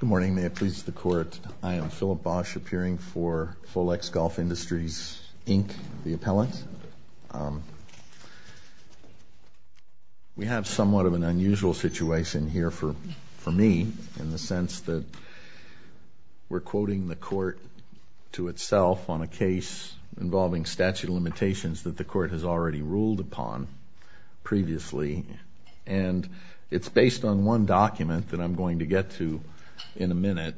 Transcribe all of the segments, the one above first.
Good morning, may it please the court. I am Philip Bosch, appearing for Folex Golf Industries, Inc., the appellant. We have somewhat of an unusual situation here for me, in the sense that we're quoting the court to itself on a case involving statute of limitations that the court has already ruled upon previously. And it's based on one document that I'm going to get to in a minute.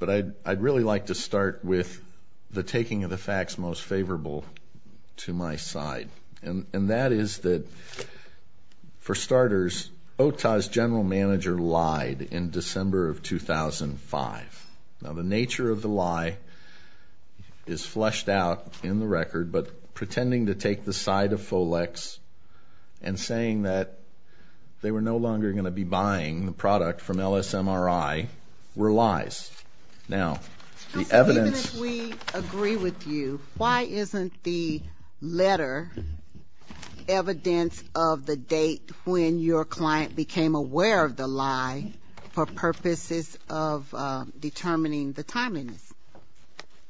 But I'd really like to start with the taking of the facts most favorable to my side. And that is that, for starters, OTA's general manager lied in December of 2005. Now, the nature of the lie is fleshed out in the record. But pretending to take the side of Folex and saying that they were no longer going to be buying the product from LSMRI were lies. Now, the evidence- Even if we agree with you, why isn't the letter evidence of the date when your client became aware of the lie for purposes of determining the timeliness?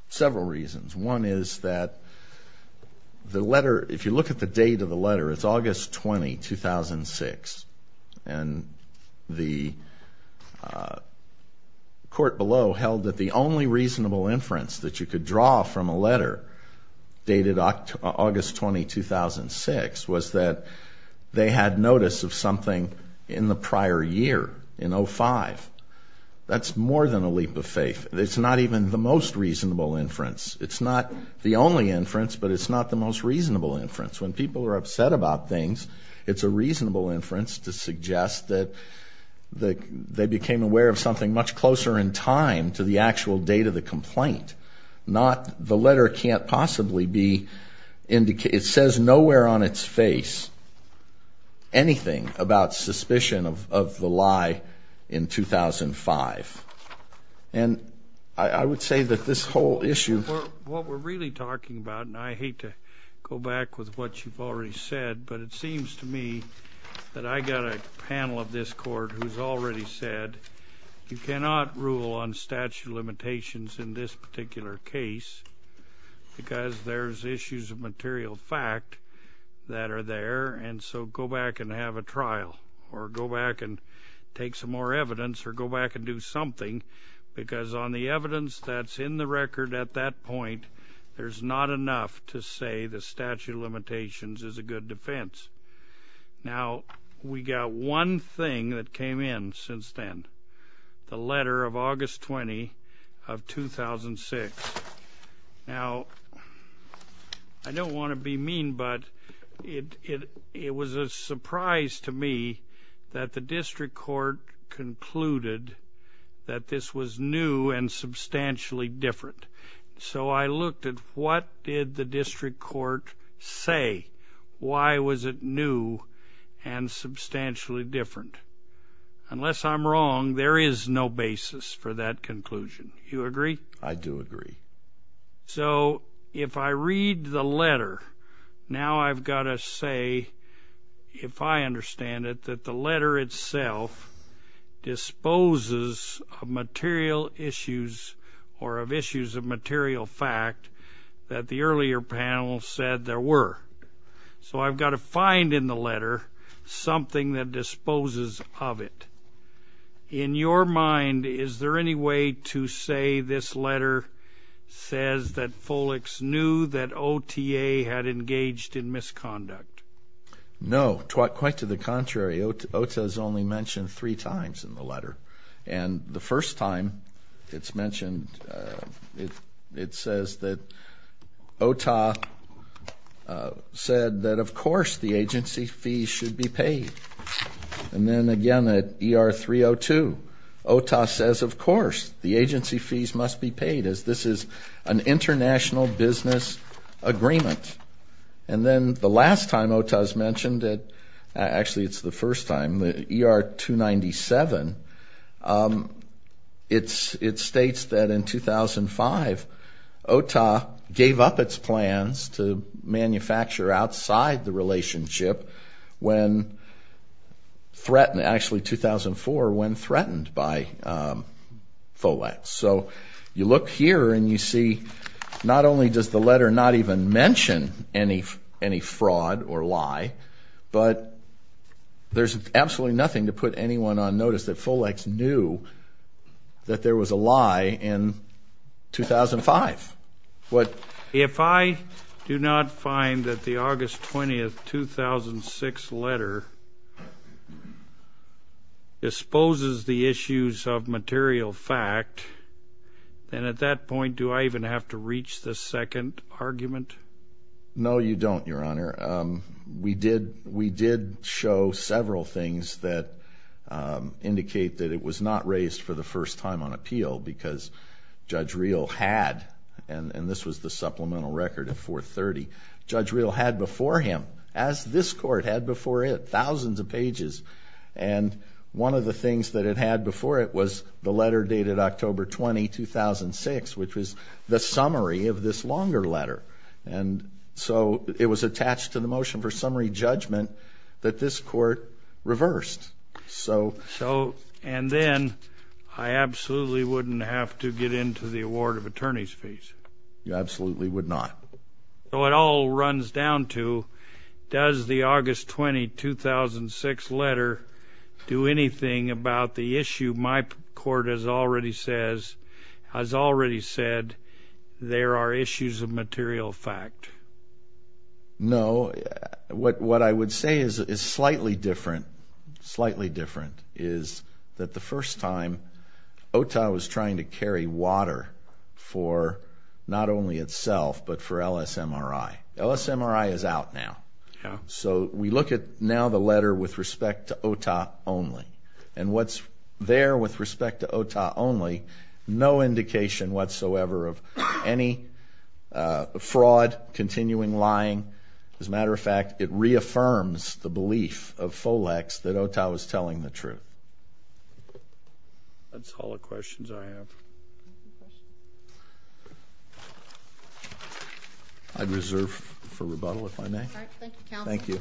Several reasons. One is that the letter, if you look at the date of the letter, it's August 20, 2006. And the court below held that the only reasonable inference that you could draw from a letter dated August 20, 2006, was that they had notice of something in the prior year, in 05. That's more than a leap of faith. It's not even the most reasonable inference. It's not the only inference, but it's not the most reasonable inference. When people are upset about things, it's a reasonable inference to suggest that they became aware of something much closer in time to the actual date of the complaint. Not the letter can't possibly be, it says nowhere on its face anything about suspicion of the lie in 2005. And I would say that this whole issue- What we're really talking about, and I hate to go back with what you've already said, but it seems to me that I got a panel of this court who's already said, you cannot rule on statute of limitations in this particular case, because there's issues of material fact that are there. And so go back and have a trial, or go back and take some more evidence, or go back and do something. Because on the evidence that's in the record at that point, there's not enough to say the statute of limitations is a good defense. Now, we got one thing that came in since then. The letter of August 20 of 2006. Now, I don't want to be mean, but it was a surprise to me that the district court concluded that this was new and substantially different. So I looked at what did the district court say? Why was it new and substantially different? Unless I'm wrong, there is no basis for that conclusion. You agree? I do agree. So if I read the letter, now I've got to say, if I understand it, that the letter itself disposes of material issues, or of issues of material fact that the earlier panel said there were. So I've got to find in the letter something that disposes of it. In your mind, is there any way to say this letter says that Folex knew that OTA had engaged in misconduct? No, quite to the contrary. OTA's only mentioned three times in the letter. And the first time it's mentioned, it says that OTA said that, of course, the agency fees should be paid. And then again, at ER 302, OTA says, of course, the agency fees must be paid as this is an international business agreement. And then the last time OTA's mentioned it, actually it's the first time, the ER 297, it states that in 2005, OTA gave up its plans to manufacture outside the relationship when threatened, actually 2004, when threatened by Folex. So you look here and you see not only does the letter not even mention any fraud or lie, but there's absolutely nothing to put anyone on notice that Folex knew that there was a lie in 2005. What? If I do not find that the August 20th, 2006 letter exposes the issues of material fact, then at that point, do I even have to reach the second argument? No, you don't, Your Honor. We did show several things that indicate that it was not raised for the first time on appeal because Judge Reel had, and this was the supplemental record at 430, Judge Reel had before him, as this court had before it, thousands of pages. And one of the things that it had before it was the letter dated October 20, 2006, which was the summary of this longer letter. And so it was attached to the motion for summary judgment that this court reversed. So- So, and then I absolutely wouldn't have to get into the award of attorney's fees. You absolutely would not. So it all runs down to, does the August 20, 2006 letter do anything about the issue my court has already said there are issues of material fact? No, what I would say is slightly different, slightly different is that the first time OTA was trying to carry water for not only itself but for LSMRI, LSMRI is out now. So we look at now the letter with respect to OTA only, and what's there with respect to OTA only, no indication whatsoever of any fraud, continuing lying, as a matter of fact, it reaffirms the belief of Folex that OTA was telling the truth. That's all the questions I have. I'd reserve for rebuttal if I may. All right, thank you counsel. Thank you.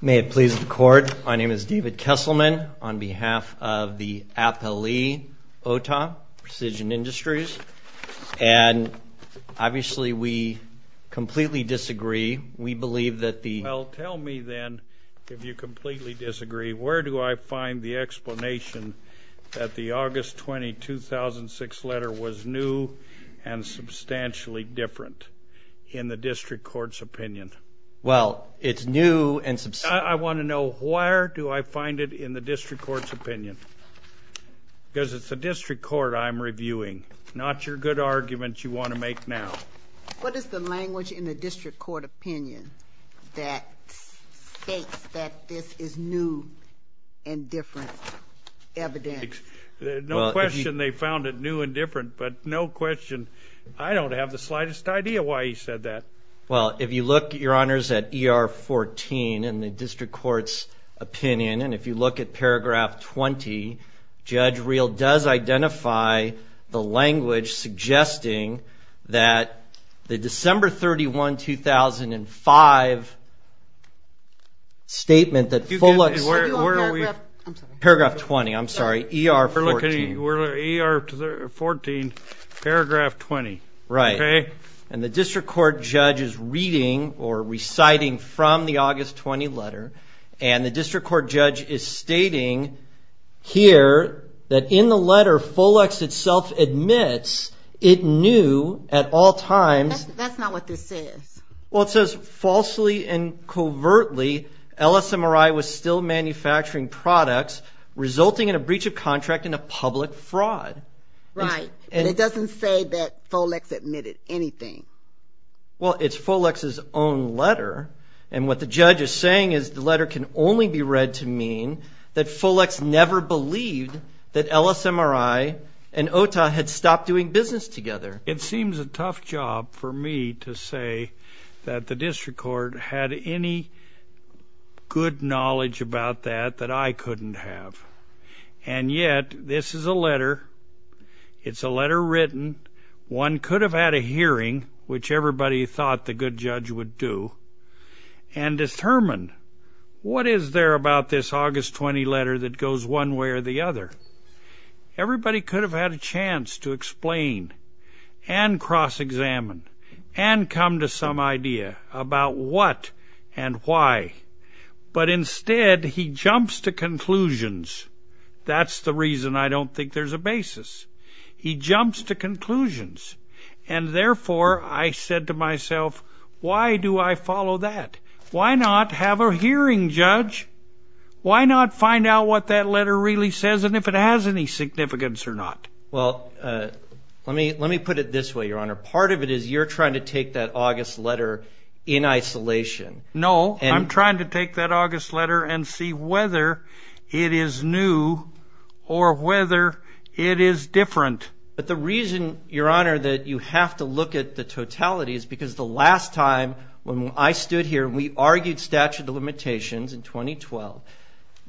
May it please the court, my name is David Kesselman, on behalf of the APLE OTA, Precision Industries. And obviously we completely disagree, we believe that the- Well, tell me then, if you completely disagree, where do I find the explanation that the August 20, 2006 letter was new and substantially different in the district court's opinion? It's new and substantially- I want to know where do I find it in the district court's opinion? Because it's the district court I'm reviewing, not your good arguments you want to make now. What is the language in the district court opinion that states that this is new and different evidence? No question they found it new and different, but no question. I don't have the slightest idea why he said that. Well, if you look, your honors, at ER 14 in the district court's opinion, and if you look at paragraph 20, Judge Reel does identify the language suggesting that the December 31, 2005 statement that Fuller- Where are we? Paragraph 20, I'm sorry, ER 14. We're looking at ER 14, paragraph 20. Right. And the district court judge is reading or reciting from the August 20 letter, and the district court judge is stating here that in the letter, Folex itself admits it knew at all times- That's not what this says. Well, it says, falsely and covertly, LSMRI was still manufacturing products, resulting in a breach of contract and a public fraud. Right. And it doesn't say that Folex admitted anything. Well, it's Folex's own letter, and what the judge is saying is the letter can only be read to mean that Folex never believed that LSMRI and OTA had stopped doing business together. It seems a tough job for me to say that the district court had any good knowledge about that that I couldn't have. And yet, this is a letter. It's a letter written. One could have had a hearing, which everybody thought the good judge would do, and determined, what is there about this August 20 letter that goes one way or the other? Everybody could have had a chance to explain and cross-examine and come to some idea about what and why. But instead, he jumps to conclusions. That's the reason I don't think there's a basis. He jumps to conclusions. And therefore, I said to myself, why do I follow that? Why not have a hearing, judge? Why not find out what that letter really says and if it has any significance or not? Well, let me put it this way, Your Honor. Part of it is you're trying to take that August letter in isolation. No. I'm trying to take that August letter and see whether it is new or whether it is different. But the reason, Your Honor, that you have to look at the totality is because the last time when I stood here and we argued statute of limitations in 2012,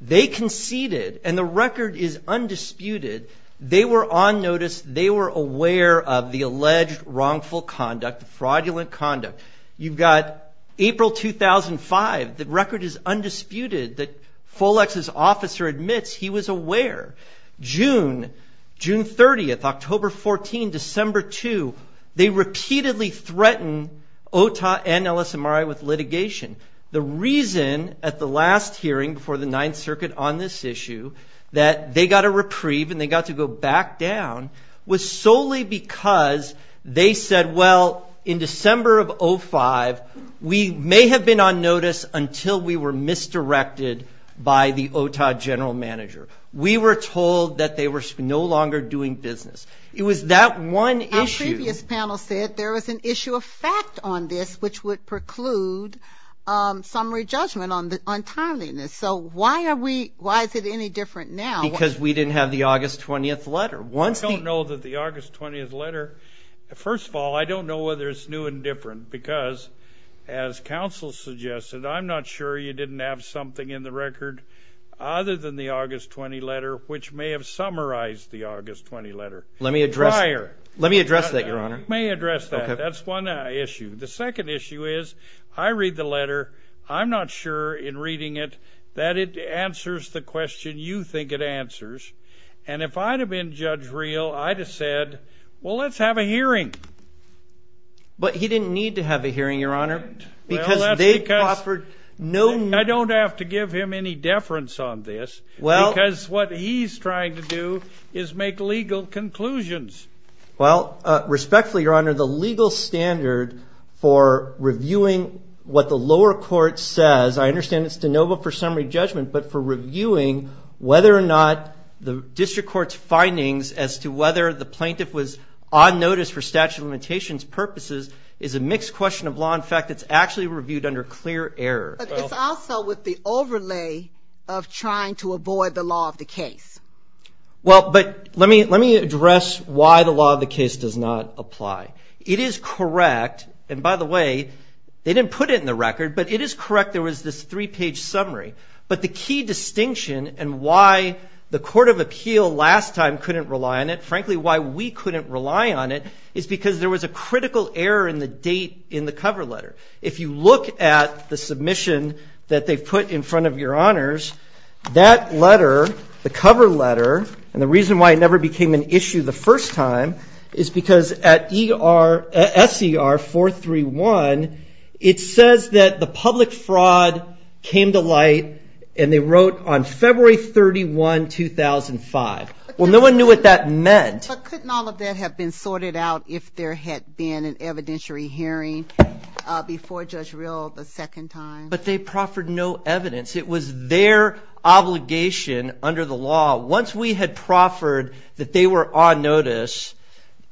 they conceded. And the record is undisputed. They were on notice. They were aware of the alleged wrongful conduct, fraudulent conduct. You've got April 2005. The record is undisputed that Folex's officer admits he was aware. June, June 30, October 14, December 2, they repeatedly threatened OTA and LSMRI with litigation. The reason at the last hearing before the Ninth Circuit on this issue that they got a reprieve and they got to go back down was solely because they said, well, in December of 2005, we may have been on notice until we were misdirected by the OTA general manager. We were told that they were no longer doing business. It was that one issue. Our previous panel said there was an issue of fact on this which would preclude summary judgment on timeliness. So why are we, why is it any different now? Because we didn't have the August 20th letter. I don't know that the August 20th letter, first of all, I don't know whether it's new and different because as counsel suggested, I'm not sure you didn't have something in the record other than the August 20 letter which may have summarized the August 20 letter prior. Let me address that, Your Honor. May address that. That's one issue. The second issue is I read the letter. I'm not sure in reading it that it answers the question you think it answers. And if I'd have been Judge Reel, I'd have said, well, let's have a hearing. But he didn't need to have a hearing, Your Honor, because they offered no... I don't have to give him any deference on this because what he's trying to do is make legal conclusions. Well, respectfully, Your Honor, the legal standard for reviewing what the lower court says, I understand it's de novo for summary judgment, but for reviewing whether or not the district court's findings as to whether the plaintiff was on notice for statute of limitations purposes is a mixed question of law. In fact, it's actually reviewed under clear error. But it's also with the overlay of trying to avoid the law of the case. Well, but let me address why the law of the case does not apply. It is correct, and by the way, they didn't put it in the record, but it is correct there was this three-page summary. But the key distinction and why the court of appeal last time couldn't rely on it, frankly, why we couldn't rely on it, is because there was a critical error in the date in the cover letter. If you look at the submission that they've put in front of Your Honors, that letter, the cover letter, and the reason why it never became an issue the first time is because at SER 431, it says that the public fraud came to light, and they wrote on February 31, 2005. Well, no one knew what that meant. But couldn't all of that have been sorted out if there had been an evidentiary hearing before Judge Rill the second time? But they proffered no evidence. It was their obligation under the law. Once we had proffered that they were on notice,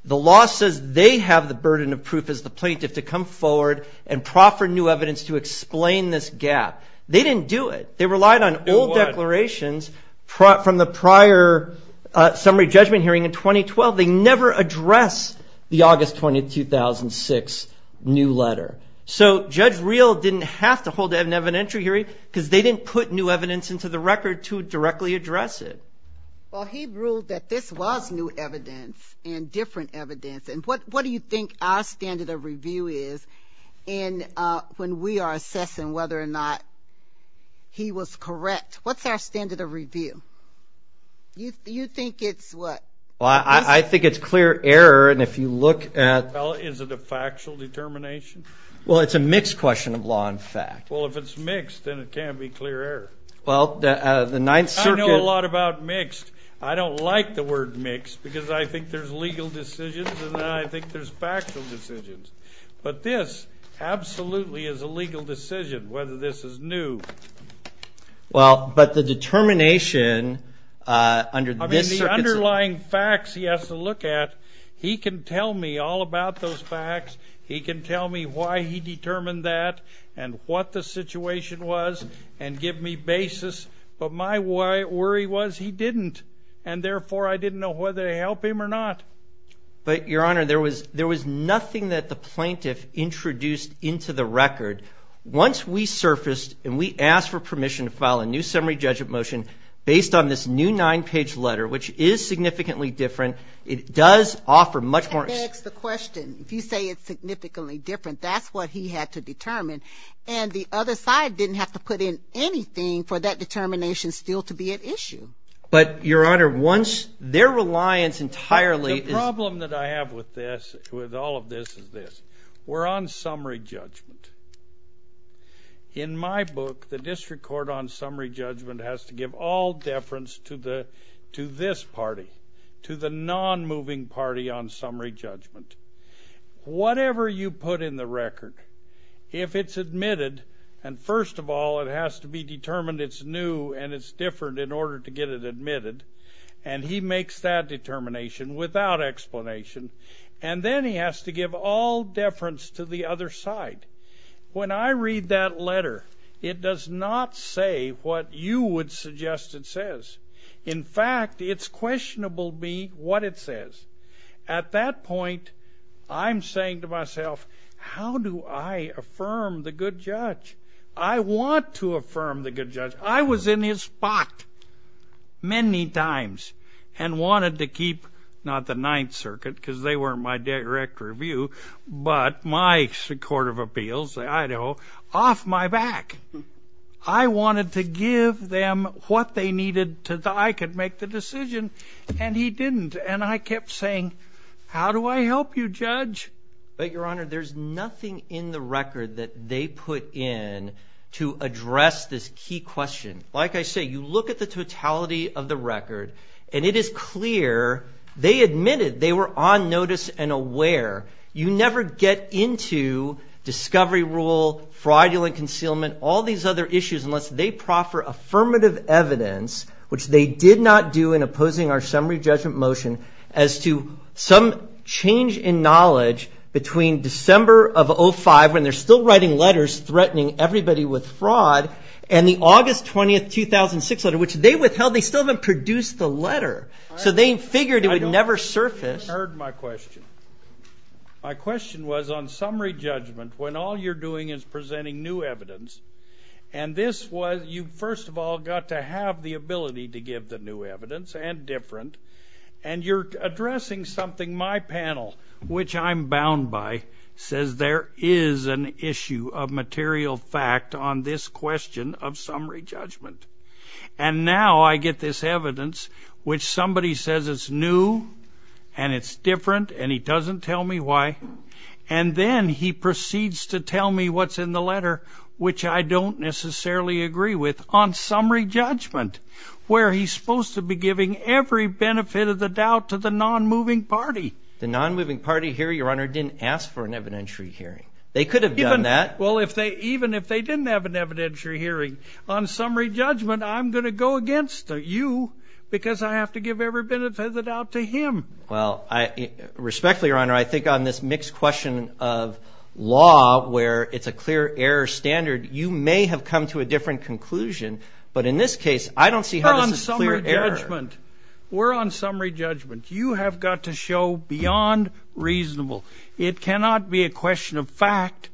the law says they have the burden of proof as the plaintiff to come forward and proffer new evidence to explain this gap. They didn't do it. They relied on old declarations from the prior summary judgment hearing in 2012. They never addressed the August 20, 2006 new letter. So Judge Rill didn't have to hold an evidentiary hearing because they didn't put new evidence into the record to directly address it. Well, he ruled that this was new evidence and different evidence. And what do you think our standard of review is when we are assessing whether or not he was correct? What's our standard of review? You think it's what? Well, I think it's clear error, and if you look at... Well, is it a factual determination? Well, it's a mixed question of law and fact. Well, if it's mixed, then it can't be clear error. Well, the Ninth Circuit... I don't like the word mixed because I think there's legal decisions and then I think there's factual decisions. But this absolutely is a legal decision whether this is new. Well, but the determination under this... I mean, the underlying facts he has to look at, he can tell me all about those facts. He can tell me why he determined that and what the situation was and give me basis. But my worry was he didn't, and therefore I didn't know whether to help him or not. But, Your Honor, there was nothing that the plaintiff introduced into the record. Once we surfaced and we asked for permission to file a new summary judgment motion based on this new nine-page letter, which is significantly different, it does offer much more... That begs the question. And the other side didn't have to put in anything for that determination still to be at issue. But, Your Honor, once their reliance entirely... The problem that I have with this, with all of this, is this. We're on summary judgment. In my book, the district court on summary judgment has to give all deference to this party, to the non-moving party on summary judgment. Whatever you put in the record, if it's admitted, and first of all, it has to be determined it's new and it's different in order to get it admitted, and he makes that determination without explanation, and then he has to give all deference to the other side. When I read that letter, it does not say what you would suggest it says. In fact, it's questionable to me what it says. At that point, I'm saying to myself, how do I affirm the good judge? I want to affirm the good judge. I was in his spot many times and wanted to keep, not the Ninth Circuit, because they weren't my direct review, but my Court of Appeals, Idaho, off my back. I wanted to give them what they needed so that I could make the decision, and he didn't. And I kept saying, how do I help you, Judge? But, Your Honor, there's nothing in the record that they put in to address this key question. Like I say, you look at the totality of the record, and it is clear they admitted they were on notice and aware. You never get into discovery rule, fraudulent concealment, all these other issues, unless they proffer affirmative evidence, which they did not do in opposing our summary judgment motion as to some change in knowledge between December of 05, when they're still writing letters threatening everybody with fraud, and the August 20th, 2006 letter, which they withheld. They still haven't produced the letter. So they figured it would never surface. You heard my question. My question was, on summary judgment, when all you're doing is presenting new evidence, and this was, you first of all got to have the ability to give the new evidence, and different, and you're addressing something my panel, which I'm bound by, says there is an issue of material fact on this question of summary judgment. And now I get this evidence, which somebody says it's new, and it's different, and he doesn't tell me why, and then he proceeds to tell me what's in the letter, which I don't necessarily agree with, on summary judgment, where he's supposed to be giving every benefit of the doubt to the non-moving party. The non-moving party here, Your Honor, didn't ask for an evidentiary hearing. They could have done that. Well, even if they didn't have an evidentiary hearing, on summary judgment, I'm gonna go against you, because I have to give every benefit of the doubt to him. Well, respectfully, Your Honor, I think on this mixed question of law, where it's a clear error standard, you may have come to a different conclusion, but in this case, I don't see how this is a clear error. We're on summary judgment. You have got to show beyond reasonable. It cannot be a question of fact.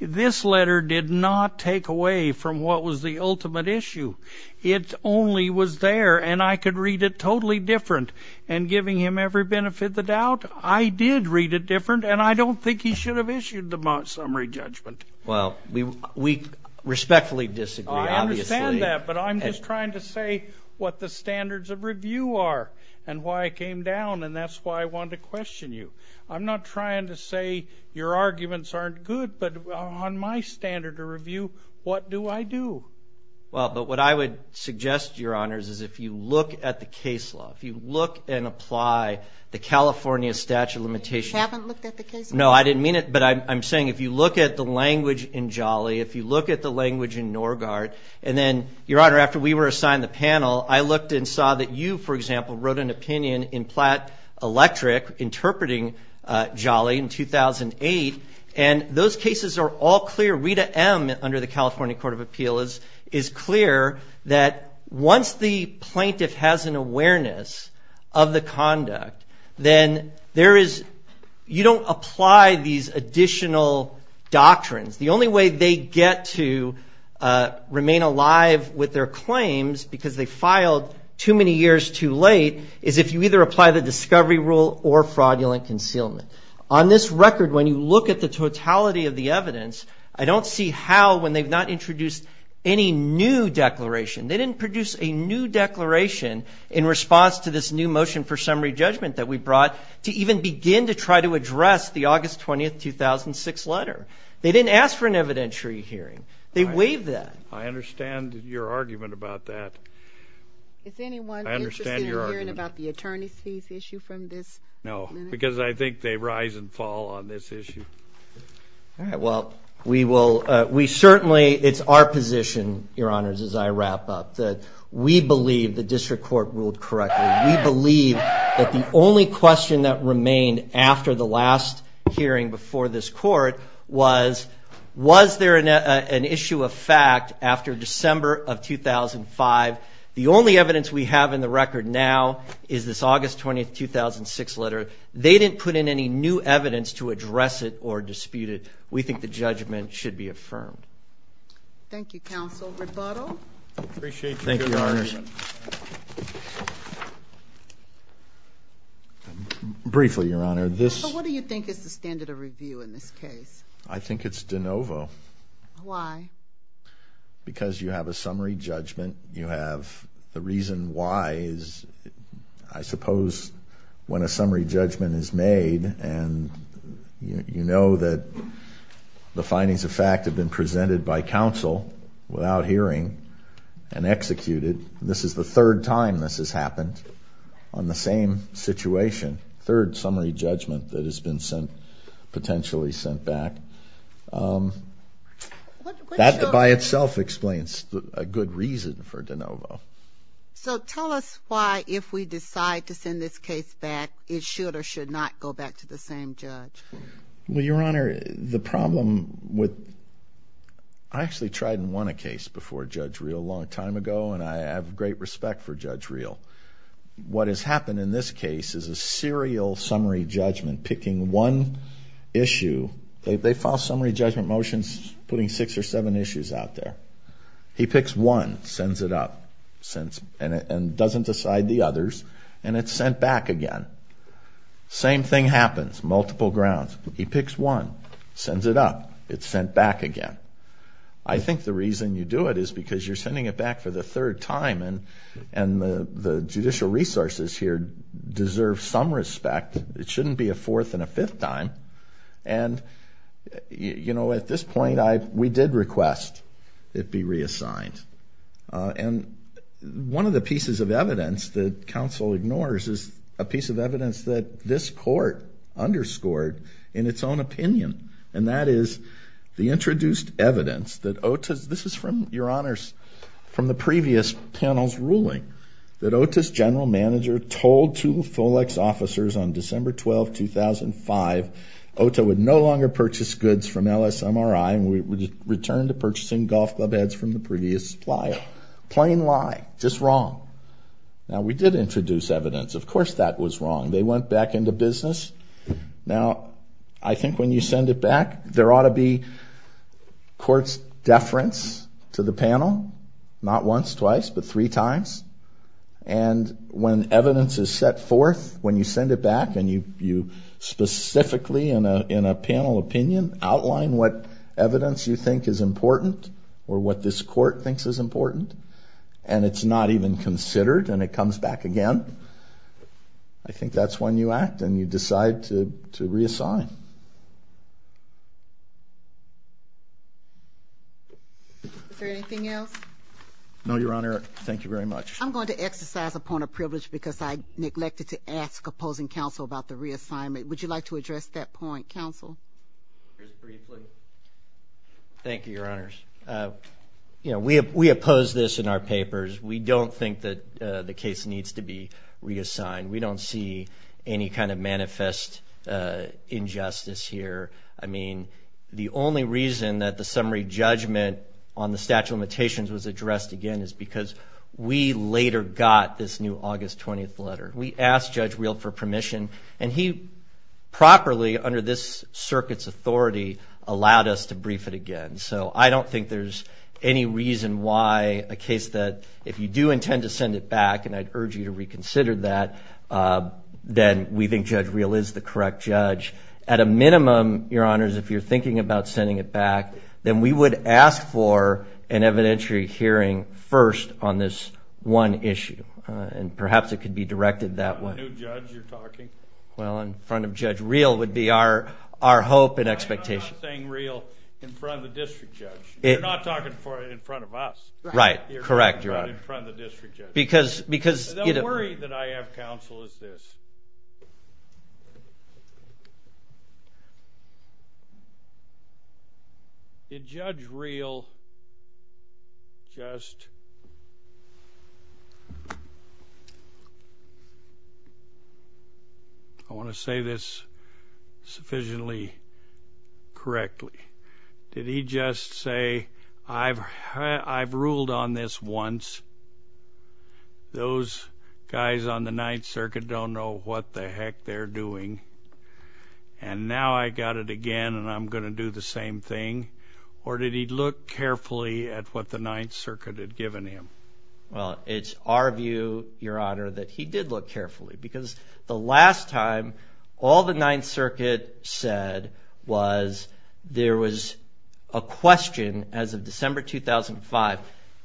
This letter did not take away from what was the ultimate issue. It only was there, and I could read it totally different. And giving him every benefit of the doubt, I did read it different, and I don't think he should have issued the summary judgment. Well, we respectfully disagree, obviously. But I'm just trying to say what the standards of review are, and why it came down, and that's why I wanted to question you. I'm not trying to say your arguments aren't good, but on my standard of review, what do I do? Well, but what I would suggest, Your Honors, is if you look at the case law, if you look and apply the California statute of limitations. You haven't looked at the case law? No, I didn't mean it, but I'm saying if you look at the language in Jolly, if you look at the language in Norgard, and then, Your Honor, after we were assigned the panel, I looked and saw that you, for example, wrote an opinion in Platt Electric interpreting Jolly in 2008, and those cases are all clear. Rita M., under the California Court of Appeals, is clear that once the plaintiff has an awareness of the conduct, then there is, you don't apply these additional doctrines. The only way they get to remain alive with their claims because they filed too many years too late is if you either apply the discovery rule or fraudulent concealment. On this record, when you look at the totality of the evidence, I don't see how, when they've not introduced any new declaration, they didn't produce a new declaration in response to this new motion for summary judgment that we brought to even begin to try to address the August 20th, 2006 letter. They didn't ask for an evidentiary hearing. They waived that. I understand your argument about that. Is anyone interested in hearing about the attorney's fees issue from this? No, because I think they rise and fall on this issue. All right, well, we certainly, it's our position, Your Honors, as I wrap up, that we believe the district court ruled correctly. We believe that the only question that remained after the last hearing before this court was, was there an issue of fact after December of 2005? The only evidence we have in the record now is this August 20th, 2006 letter. They didn't put in any new evidence to address it or dispute it. We think the judgment should be affirmed. Rebuttal? Appreciate your argument. Thank you, Your Honors. Briefly, Your Honor, this- So what do you think is the standard of review in this case? I think it's de novo. Why? Because you have a summary judgment. You have, the reason why is, I suppose, when a summary judgment is made and you know that the findings of fact have been presented by counsel without hearing and executed, this is the third time this has happened on the same situation, third summary judgment that has been sent, potentially sent back. That by itself explains a good reason for de novo. So tell us why, if we decide to send this case back, it should or should not go back to the same judge. Well, Your Honor, the problem with, I actually tried and won a case before Judge Reel a long time ago, and I have great respect for Judge Reel. What has happened in this case is a serial summary judgment picking one issue. They file summary judgment motions putting six or seven issues out there. He picks one, sends it up, and doesn't decide the others, and it's sent back again. Same thing happens, multiple grounds. He picks one, sends it up, it's sent back again. I think the reason you do it is because you're sending it back for the third time and the judicial resources here deserve some respect. It shouldn't be a fourth and a fifth time. And at this point, we did request it be reassigned. And one of the pieces of evidence that counsel ignores is a piece of evidence that this court underscored in its own opinion, and that is the introduced evidence that Ota's, this is from your honors, from the previous panel's ruling, that Ota's general manager told two FOLEX officers on December 12, 2005, Ota would no longer purchase goods from LSMRI and would return to purchasing golf club heads from the previous supplier. Plain lie, just wrong. Now we did introduce evidence, of course that was wrong. They went back into business. Now, I think when you send it back, there ought to be court's deference to the panel, not once, twice, but three times. And when evidence is set forth, when you send it back and you specifically, in a panel opinion, outline what evidence you think is important or what this court thinks is important, and it's not even considered and it comes back again, I think that's when you act and you decide to reassign. Is there anything else? No, your honor. Thank you very much. I'm going to exercise a point of privilege because I neglected to ask opposing counsel about the reassignment. Would you like to address that point, counsel? Just briefly. Thank you, your honors. You know, we oppose this in our papers. We don't think that the case needs to be reassigned. We don't see any kind of manifest injustice here. I mean, the only reason that the summary judgment on the statute of limitations was addressed again is because we later got this new August 20th letter. We asked Judge Real for permission, and he properly, under this circuit's authority, allowed us to brief it again. So I don't think there's any reason why a case that if you do intend to send it back, and I'd urge you to reconsider that, then we think Judge Real is the correct judge. At a minimum, your honors, if you're thinking about sending it back, then we would ask for an evidentiary hearing first on this one issue, and perhaps it could be directed that way. The new judge you're talking? Well, in front of Judge Real would be our hope and expectation. I'm not saying Real in front of the district judge. You're not talking for in front of us. Right, correct, your honor. You're talking about in front of the district judge. Because, you know. The worry that I have, counsel, is this. Is Judge Real just... I want to say this sufficiently correctly. Did he just say, I've ruled on this once. Those guys on the Ninth Circuit don't know what the heck they're doing. And now I got it again, and I'm gonna do the same thing. Or did he look carefully at what the Ninth Circuit had given him? Well, it's our view, your honor, that he did look carefully. Because the last time all the Ninth Circuit said was there was a question as of December 2005.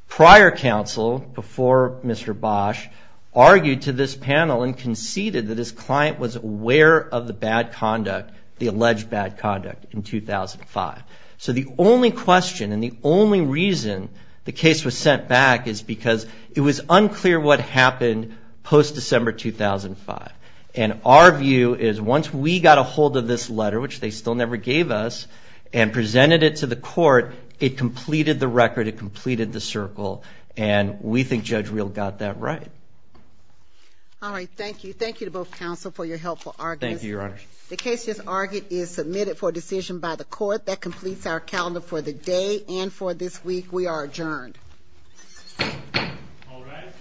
Prior counsel, before Mr. Bosch, argued to this panel and conceded that his client was aware of the bad conduct, the alleged bad conduct, in 2005. So the only question and the only reason the case was sent back is because it was unclear what happened post-December 2005. And our view is once we got a hold of this letter, which they still never gave us, and presented it to the court, it completed the record, it completed the circle. And we think Judge Real got that right. All right, thank you. Thank you to both counsel for your helpful arguments. Thank you, your honor. The case just argued is submitted for decision by the court that completes our calendar for the day and for this week. We are adjourned. All rise.